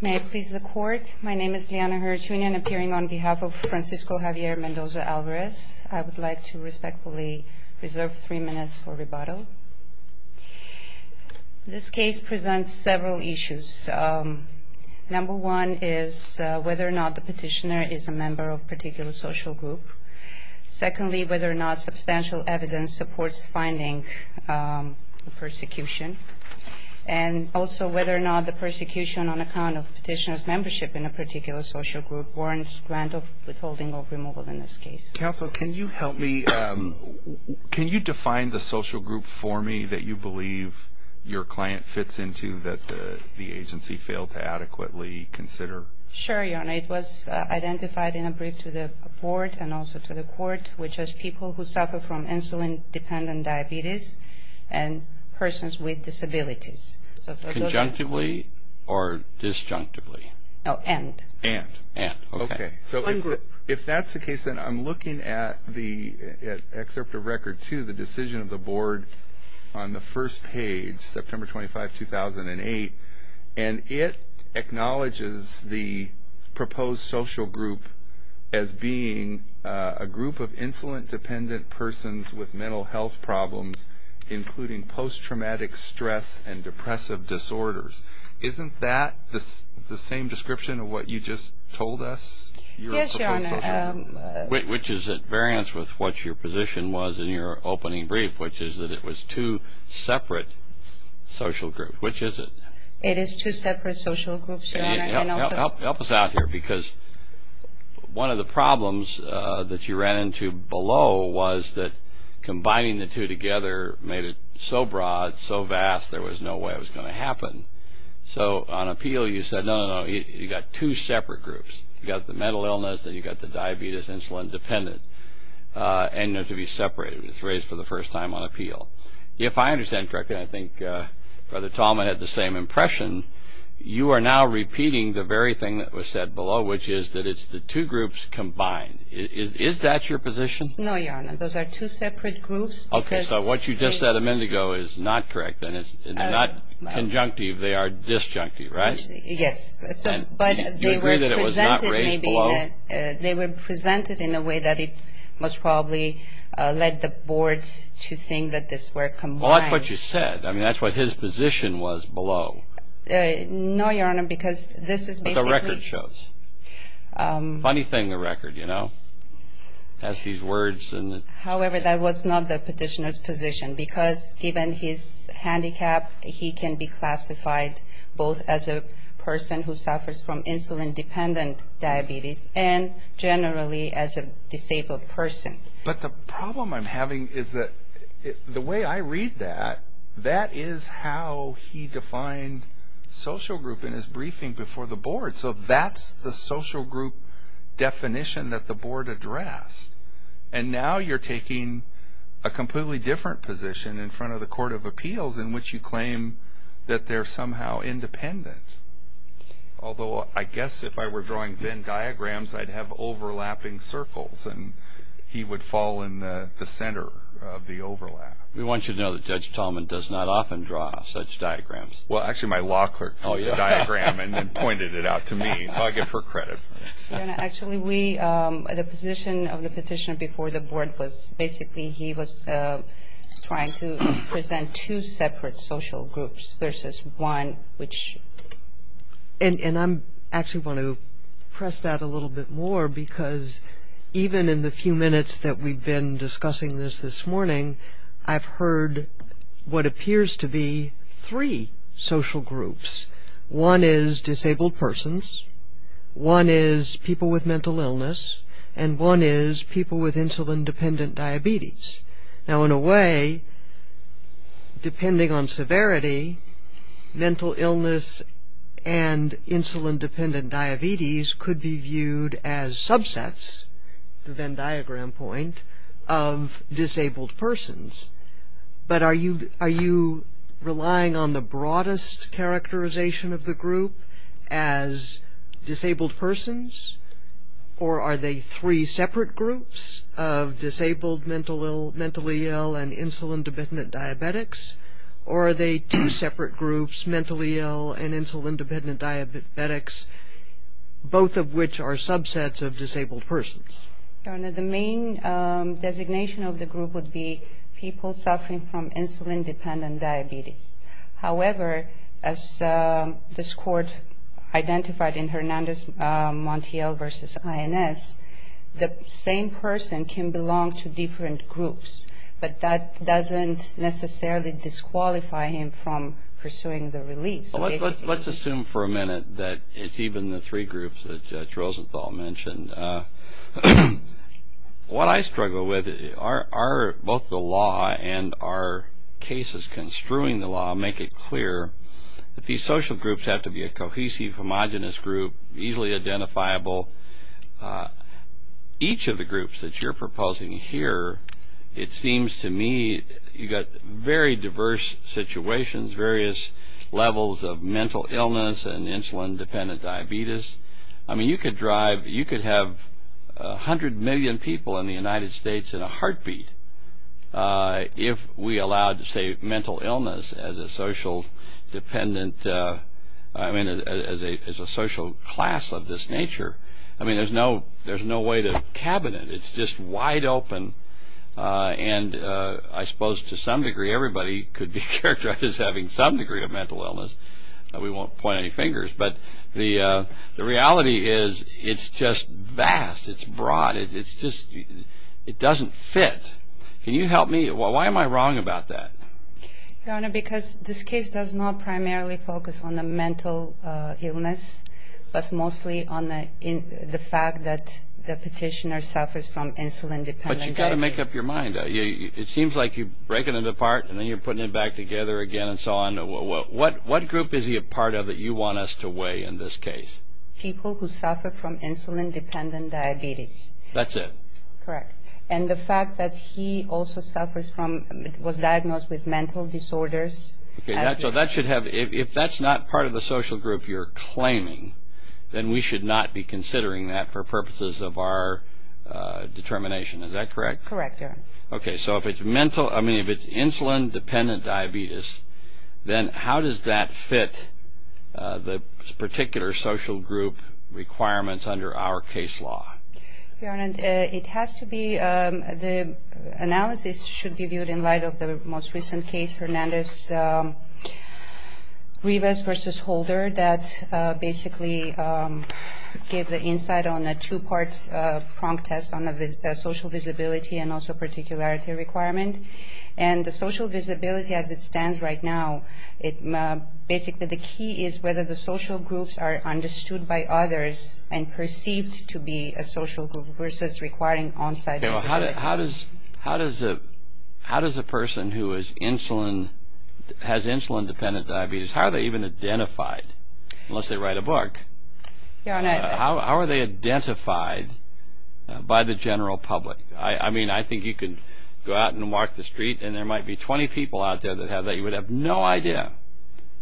May I please the court? My name is Liana Hertzunian, appearing on behalf of Francisco Javier Mendoza-Alvarez. I would like to respectfully reserve three minutes for rebuttal. This case presents several issues. Number one is whether or not the petitioner is a member of a particular social group. Secondly, whether or not substantial evidence supports finding the persecution. And also whether or not the persecution on account of petitioner's membership in a particular social group warrants grant of withholding or removal in this case. Counsel, can you help me? Can you define the social group for me that you believe your client fits into that the agency failed to adequately consider? Sure, Your Honor. It was identified in a brief to the board and also to the court, which was people who suffer from insulin-dependent diabetes and persons with disabilities. Conjunctively or disjunctively? Oh, and. And. Okay. So if that's the case, then I'm looking at the excerpt of record two, the decision of the board on the first page, September 25, 2008. And it acknowledges the proposed social group as being a group of insulin-dependent persons with mental health problems, including post-traumatic stress and depressive disorders. Isn't that the same description of what you just told us? Yes, Your Honor. Which is at variance with what your position was in your opening brief, which is that it was two separate social groups. Which is it? It is two separate social groups, Your Honor. Help us out here, because one of the problems that you ran into below was that combining the two together made it so broad, so vast, there was no way it was going to happen. So on appeal, you said, no, no, no, you've got two separate groups. You've got the mental illness and you've got the diabetes, insulin-dependent, and they're to be separated. It was raised for the first time on appeal. If I understand correctly, and I think Brother Tallman had the same impression, you are now repeating the very thing that was said below, which is that it's the two groups combined. Is that your position? No, Your Honor. Those are two separate groups. Okay. So what you just said a minute ago is not correct, and it's not conjunctive. They are disjunctive, right? Yes. You agree that it was not raised below? They were presented in a way that it most probably led the board to think that this were combined. Well, that's what you said. I mean, that's what his position was below. No, Your Honor, because this is basically – But the record shows. Funny thing, the record, you know? It has these words and – However, that was not the petitioner's position, because given his handicap, he can be classified both as a person who suffers from insulin-dependent diabetes and generally as a disabled person. But the problem I'm having is that the way I read that, that is how he defined social group in his briefing before the board. So that's the social group definition that the board addressed. And now you're taking a completely different position in front of the Court of Appeals in which you claim that they're somehow independent. Although I guess if I were drawing Venn diagrams, I'd have overlapping circles, and he would fall in the center of the overlap. We want you to know that Judge Tallman does not often draw such diagrams. Well, actually, my law clerk saw your diagram and then pointed it out to me. So I give her credit for that. Your Honor, actually, we – the position of the petitioner before the board was – versus one which – And I actually want to press that a little bit more, because even in the few minutes that we've been discussing this this morning, I've heard what appears to be three social groups. One is disabled persons, one is people with mental illness, and one is people with insulin-dependent diabetes. Now, in a way, depending on severity, mental illness and insulin-dependent diabetes could be viewed as subsets, the Venn diagram point, of disabled persons. But are you relying on the broadest characterization of the group as disabled persons? Or are they three separate groups of disabled, mentally ill, and insulin-dependent diabetics? Or are they two separate groups, mentally ill and insulin-dependent diabetics, both of which are subsets of disabled persons? Your Honor, the main designation of the group would be people suffering from insulin-dependent diabetes. However, as this Court identified in Hernandez-Montiel v. INS, the same person can belong to different groups, but that doesn't necessarily disqualify him from pursuing the release. Let's assume for a minute that it's even the three groups that Judge Rosenthal mentioned. What I struggle with are both the law and our cases construing the law make it clear that these social groups have to be a cohesive, homogenous group, easily identifiable. Each of the groups that you're proposing here, it seems to me you've got very diverse situations, various levels of mental illness and insulin-dependent diabetes. I mean, you could have 100 million people in the United States in a heartbeat if we allowed, say, mental illness as a social class of this nature. I mean, there's no way to cabinet. It's just wide open, and I suppose to some degree, everybody could be characterized as having some degree of mental illness. We won't point any fingers. But the reality is it's just vast. It's broad. It doesn't fit. Can you help me? Why am I wrong about that? Your Honor, because this case does not primarily focus on the mental illness, but mostly on the fact that the petitioner suffers from insulin-dependent diabetes. But you've got to make up your mind. It seems like you're breaking it apart and then you're putting it back together again and so on. What group is he a part of that you want us to weigh in this case? People who suffer from insulin-dependent diabetes. That's it. Correct. And the fact that he also suffers from, was diagnosed with mental disorders. So that should have, if that's not part of the social group you're claiming, then we should not be considering that for purposes of our determination. Is that correct? Correct, Your Honor. Okay, so if it's mental, I mean if it's insulin-dependent diabetes, then how does that fit the particular social group requirements under our case law? Your Honor, it has to be, the analysis should be viewed in light of the most recent case, Hernandez-Rivas v. Holder, that basically gave the insight on a two-part prong test on social visibility and also particularity requirement. And the social visibility as it stands right now, basically the key is whether the social groups are understood by others and perceived to be a social group versus requiring on-site visibility. How does a person who has insulin-dependent diabetes, how are they even identified unless they write a book? Your Honor. How are they identified by the general public? I mean, I think you could go out and walk the street and there might be 20 people out there that have that. You would have no idea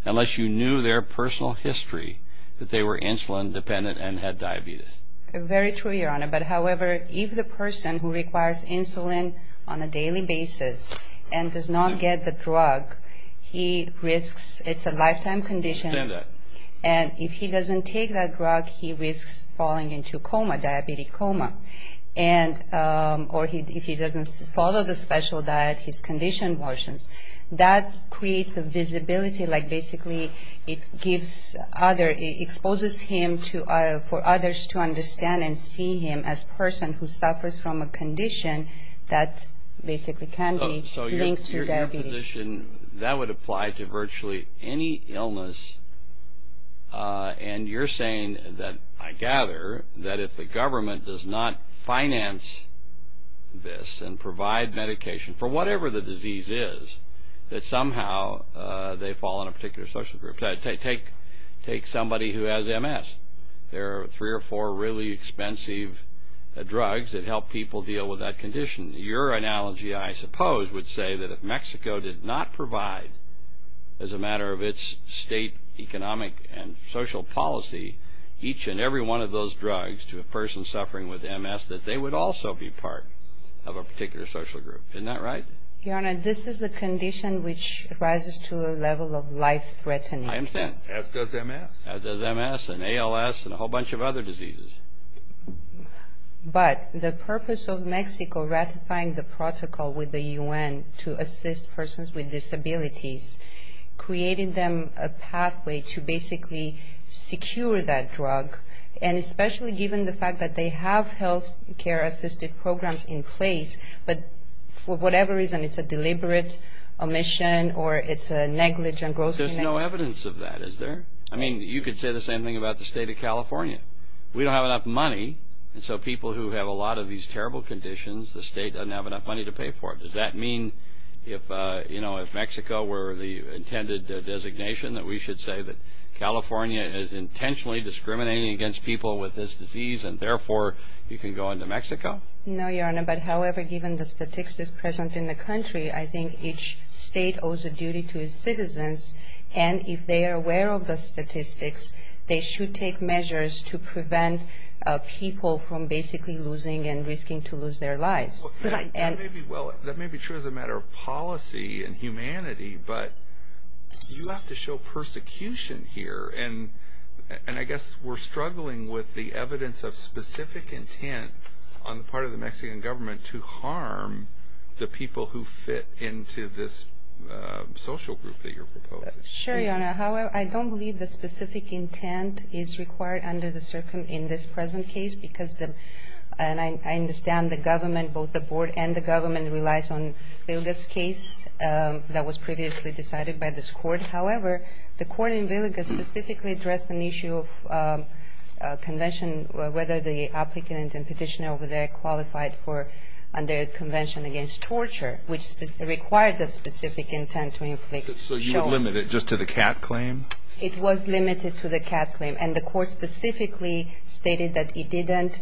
unless you knew their personal history that they were insulin-dependent and had diabetes. Very true, Your Honor. But, however, if the person who requires insulin on a daily basis and does not get the drug, he risks, it's a lifetime condition. And if he doesn't take that drug, he risks falling into a coma, a diabetes coma. Or if he doesn't follow the special diet, his condition worsens. That creates the visibility, like basically it gives other, it exposes him for others to understand and see him as a person who suffers from a condition that basically can be linked to diabetes. So your position, that would apply to virtually any illness. And you're saying that, I gather, that if the government does not finance this and provide medication for whatever the disease is, that somehow they fall in a particular social group. Take somebody who has MS. There are three or four really expensive drugs that help people deal with that condition. Your analogy, I suppose, would say that if Mexico did not provide, as a matter of its state economic and social policy, each and every one of those drugs to a person suffering with MS, that they would also be part of a particular social group. Isn't that right? Your Honor, this is a condition which rises to a level of life-threatening. I understand. As does MS. As does MS and ALS and a whole bunch of other diseases. But the purpose of Mexico ratifying the protocol with the U.N. to assist persons with disabilities, creating them a pathway to basically secure that drug, and especially given the fact that they have healthcare-assisted programs in place, but for whatever reason it's a deliberate omission or it's a negligent gross neglect. There's no evidence of that, is there? I mean, you could say the same thing about the state of California. We don't have enough money, and so people who have a lot of these terrible conditions, the state doesn't have enough money to pay for it. Does that mean if Mexico were the intended designation that we should say that California is intentionally discriminating against people with this disease and therefore you can go into Mexico? No, Your Honor, but however, given the statistics present in the country, I think each state owes a duty to its citizens, and if they are aware of the statistics, they should take measures to prevent people from basically losing and risking to lose their lives. Well, that may be true as a matter of policy and humanity, but you have to show persecution here, and I guess we're struggling with the evidence of specific intent on the part of the Mexican government to harm the people who fit into this social group that you're proposing. Sure, Your Honor. However, I don't believe the specific intent is required under the circuit in this present case because the – and I understand the government, both the board and the government relies on Vilga's case that was previously decided by this Court. However, the court in Vilga specifically addressed an issue of convention, whether the applicant and petitioner over there qualified for – under convention against torture, which required the specific intent to inflict – So you would limit it just to the CAT claim? It was limited to the CAT claim, and the court specifically stated that it didn't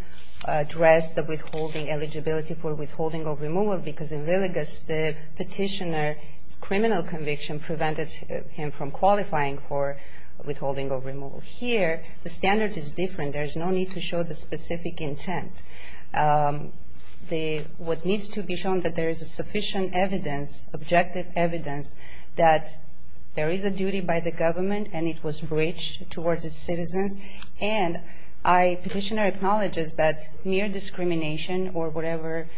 address the withholding eligibility for withholding or removal because in Vilga's, the petitioner's criminal conviction prevented him from qualifying for withholding or removal. Here, the standard is different. There is no need to show the specific intent. The – what needs to be shown that there is sufficient evidence, objective evidence that there is a duty by the government and it was breached towards its citizens, and I – petitioner acknowledges that mere discrimination or whatever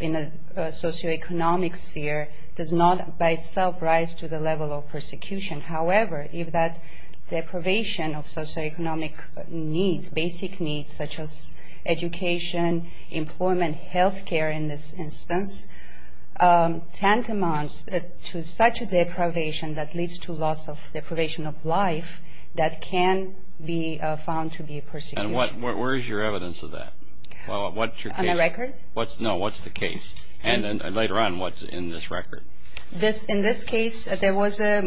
in a socioeconomic sphere does not by itself rise to the level of persecution. However, if that deprivation of socioeconomic needs, basic needs such as education, employment, healthcare in this instance, tantamounts to such a deprivation that leads to loss of – deprivation of life that can be found to be persecution. And what – where is your evidence of that? What's your case? On the record? No, what's the case? And then later on, what's in this record? This – in this case, there was a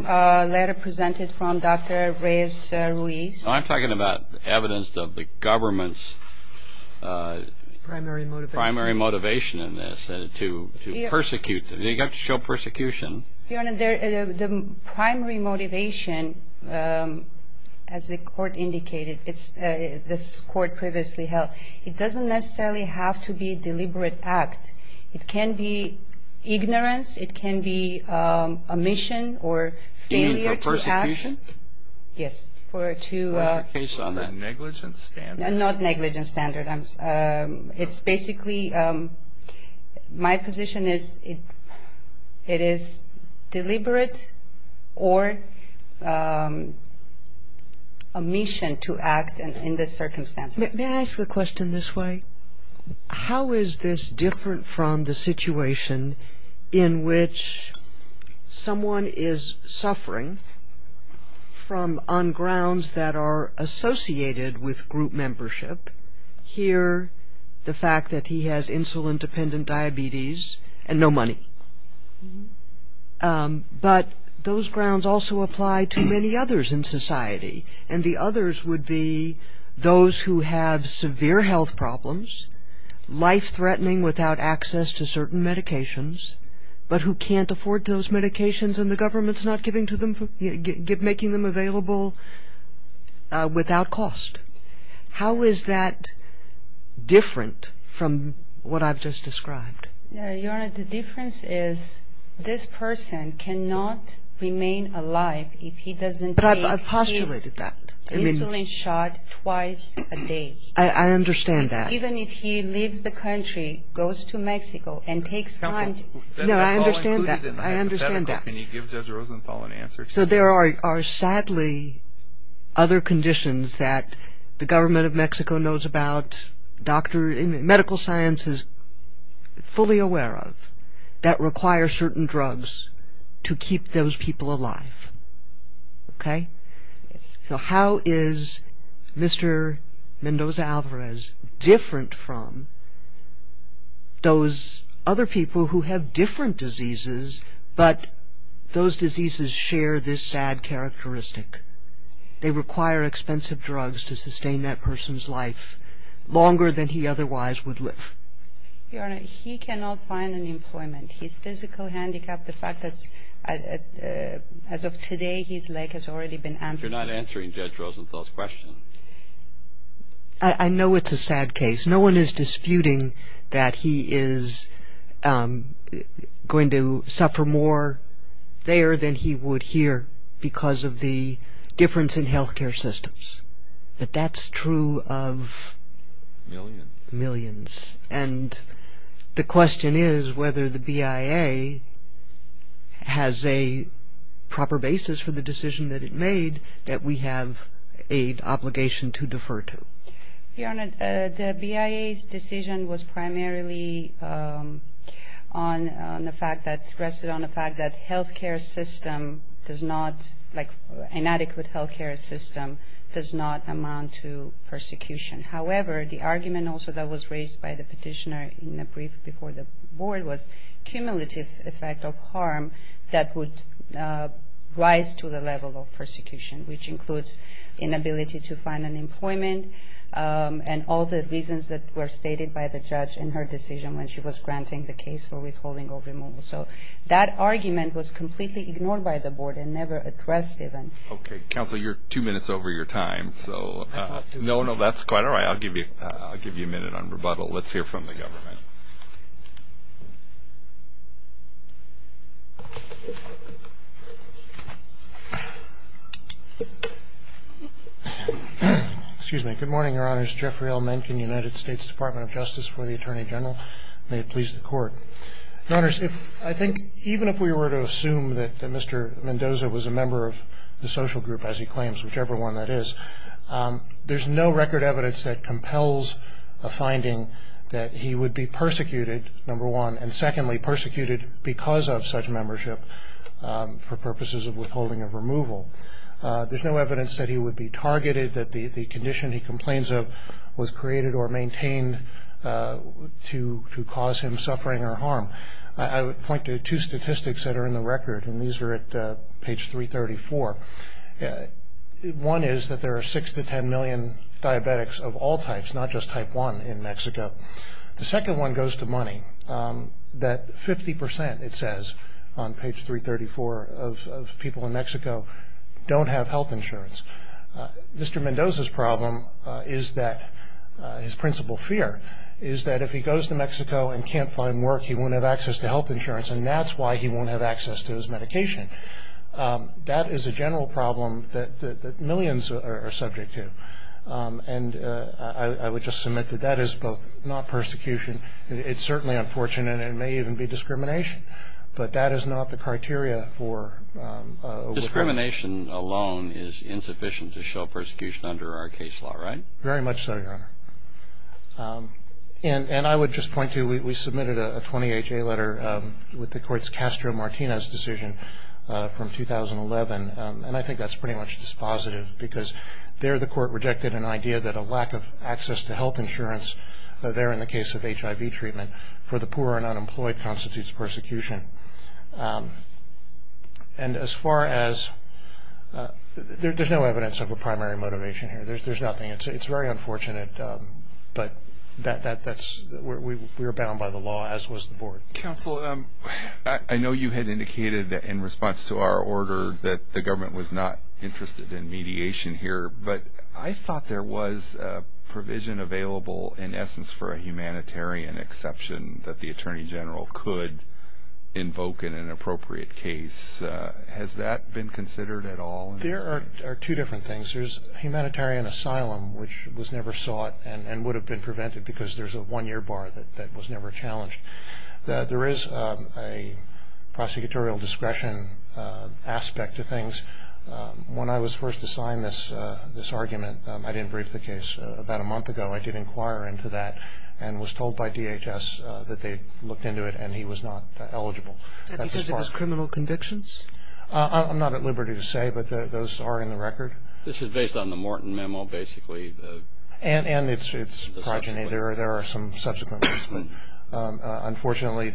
letter presented from Dr. Reyes Ruiz. I'm talking about evidence of the government's – Primary motivation. Primary motivation in this to persecute. You have to show persecution. Your Honor, the primary motivation, as the Court indicated, it's – this Court previously held, it doesn't necessarily have to be deliberate act. It can be ignorance. It can be omission or failure to act. Aim for persecution? Yes. For to – On that negligent standard. Not negligent standard. It's basically – my position is it is deliberate or omission to act in this circumstance. May I ask a question this way? How is this different from the situation in which someone is suffering from – on grounds that are associated with group membership? Here, the fact that he has insulin-dependent diabetes and no money. But those grounds also apply to many others in society. And the others would be those who have severe health problems, life-threatening without access to certain medications, but who can't afford those medications and the government's not giving to them – making them available without cost. How is that different from what I've just described? Your Honor, the difference is this person cannot remain alive if he doesn't take his – But I've postulated that. – insulin shot twice a day. I understand that. Even if he leaves the country, goes to Mexico and takes time – No, I understand that. I understand that. Can you give Judge Rosenthal an answer to that? So there are sadly other conditions that the government of Mexico knows about, medical science is fully aware of that require certain drugs to keep those people alive. Okay? Yes. So how is Mr. Mendoza-Alvarez different from those other people who have different diseases, but those diseases share this sad characteristic? They require expensive drugs to sustain that person's life longer than he otherwise would live. Your Honor, he cannot find an employment. His physical handicap, the fact that as of today his leg has already been amputated. You're not answering Judge Rosenthal's question. I know it's a sad case. No one is disputing that he is going to suffer more there than he would here because of the difference in health care systems. But that's true of – Millions. Millions. And the question is whether the BIA has a proper basis for the decision that it made that we have an obligation to defer to. Your Honor, the BIA's decision was primarily on the fact that – rested on the fact that health care system does not – like inadequate health care system does not amount to persecution. However, the argument also that was raised by the petitioner in the brief before the board was cumulative effect of harm that would rise to the level of persecution, which includes inability to find an employment and all the reasons that were stated by the judge in her decision when she was granting the case for withholding or removal. So that argument was completely ignored by the board and never addressed even. Okay. Counsel, you're two minutes over your time. No, no, that's quite all right. I'll give you a minute on rebuttal. Let's hear from the government. Excuse me. Good morning, Your Honors. Jeffrey L. Menken, United States Department of Justice for the Attorney General. May it please the Court. Your Honors, I think even if we were to assume that Mr. Mendoza was a member of the social group, as he claims, whichever one that is, there's no record evidence that compels a finding that he would be persecuted, number one, and secondly persecuted because of such membership for purposes of withholding or removal. There's no evidence that he would be targeted, that the condition he complains of was created or maintained to cause him suffering or harm. I would point to two statistics that are in the record, and these are at page 334. One is that there are 6 to 10 million diabetics of all types, not just type 1, in Mexico. The second one goes to money, that 50%, it says, on page 334 of people in Mexico don't have health insurance. Mr. Mendoza's problem is that his principal fear is that if he goes to Mexico and can't find work, he won't have access to health insurance, and that's why he won't have access to his medication. That is a general problem that millions are subject to, and I would just submit that that is both not persecution. It's certainly unfortunate. It may even be discrimination, but that is not the criteria for withholding. Discrimination alone is insufficient to show persecution under our case law, right? Very much so, Your Honor, and I would just point to, we submitted a 20HA letter with the court's Castro-Martinez decision from 2011, and I think that's pretty much dispositive because there the court rejected an idea that a lack of access to health insurance, there in the case of HIV treatment, for the poor and unemployed constitutes persecution. And as far as, there's no evidence of a primary motivation here. There's nothing. It's very unfortunate, but we're bound by the law, as was the board. Counsel, I know you had indicated in response to our order that the government was not interested in mediation here, but I thought there was provision available, in essence, for a humanitarian exception that the Attorney General could invoke in an appropriate case. Has that been considered at all? There are two different things. There's humanitarian asylum, which was never sought and would have been prevented because there's a one-year bar that was never challenged. There is a prosecutorial discretion aspect to things. When I was first assigned this argument, I didn't brief the case. About a month ago, I did inquire into that and was told by DHS that they'd looked into it and he was not eligible. And he says it was criminal convictions? I'm not at liberty to say, but those are in the record. This is based on the Morton memo, basically? And it's progeny. There are some subsequent ones. Unfortunately,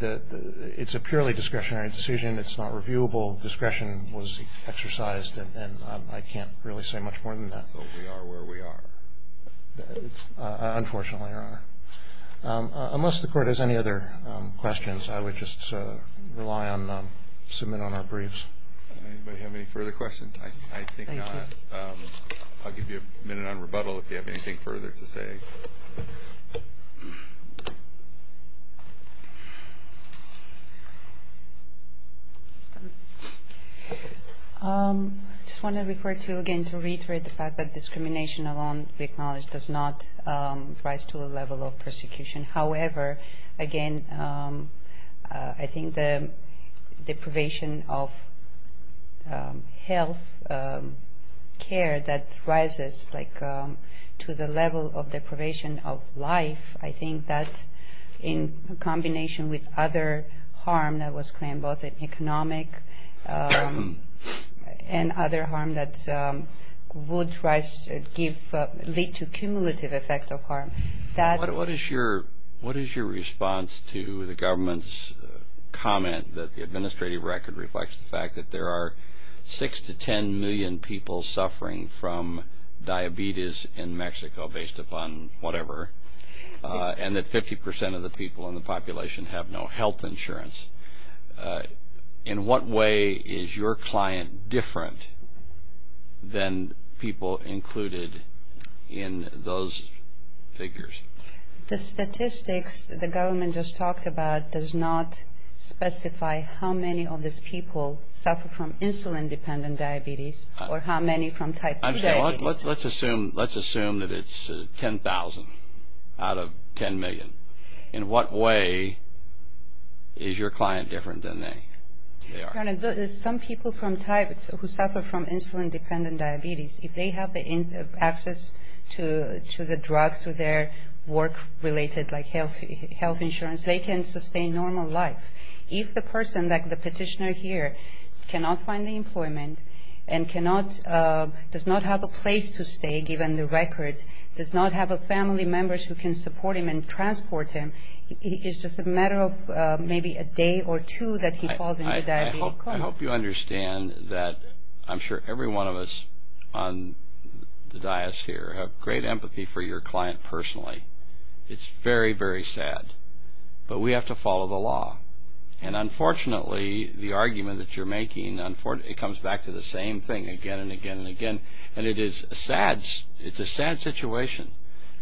it's a purely discretionary decision. It's not reviewable. Discretion was exercised, and I can't really say much more than that. So we are where we are? Unfortunately, Your Honor. Unless the Court has any other questions, I would just rely on submit on our briefs. Anybody have any further questions? I think not. I'll give you a minute on rebuttal if you have anything further to say. I just want to refer to, again, to reiterate the fact that discrimination alone, we acknowledge, does not rise to a level of persecution. However, again, I think the deprivation of health care that rises, like, to the level of deprivation of life, I think that in combination with other harm that was claimed, both economic and other harm, that would lead to cumulative effect of harm. What is your response to the government's comment that the administrative record reflects the fact that there are 6 to 10 million people suffering from diabetes in Mexico based upon whatever, and that 50 percent of the people in the population have no health insurance? In what way is your client different than people included in those figures? The statistics the government just talked about does not specify how many of these people suffer from insulin-dependent diabetes or how many from type 2 diabetes. Let's assume that it's 10,000 out of 10 million. In what way is your client different than they are? Some people who suffer from insulin-dependent diabetes, if they have access to the drugs through their work-related, like health insurance, they can sustain normal life. If the person, like the petitioner here, cannot find employment and does not have a place to stay, given the record, does not have family members who can support him and transport him, it's just a matter of maybe a day or two that he falls into diabetes. I hope you understand that I'm sure every one of us on the dais here have great empathy for your client personally. It's very, very sad. But we have to follow the law. And unfortunately, the argument that you're making, it comes back to the same thing again and again and again. And it is a sad situation,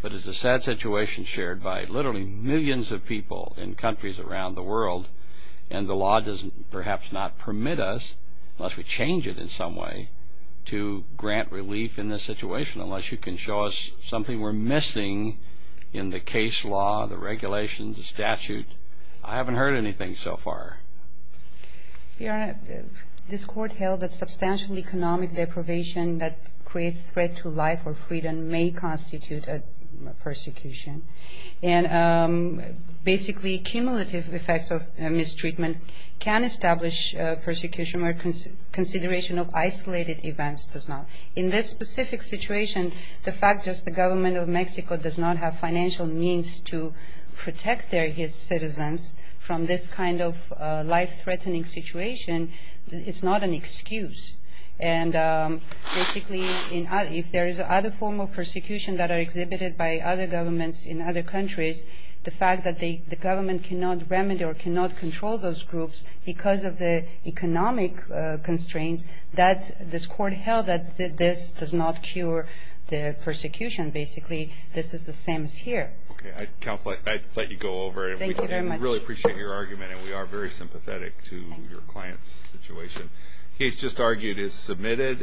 but it's a sad situation shared by literally millions of people in countries around the world. And the law does perhaps not permit us, unless we change it in some way, to grant relief in this situation, unless you can show us something we're missing in the case law, the regulations, the statute. I haven't heard anything so far. Your Honor, this Court held that substantial economic deprivation that creates threat to life or freedom may constitute a persecution. And basically, cumulative effects of mistreatment can establish persecution, where consideration of isolated events does not. In this specific situation, the fact is the government of Mexico does not have financial means to protect their citizens from this kind of life-threatening situation. It's not an excuse. And basically, if there is another form of persecution that are exhibited by other governments in other countries, the fact that the government cannot remedy or cannot control those groups because of the economic constraints, this Court held that this does not cure the persecution. Basically, this is the same as here. Okay. Counselor, I'd let you go over. Thank you very much. We really appreciate your argument, and we are very sympathetic to your client's situation. The case just argued is submitted.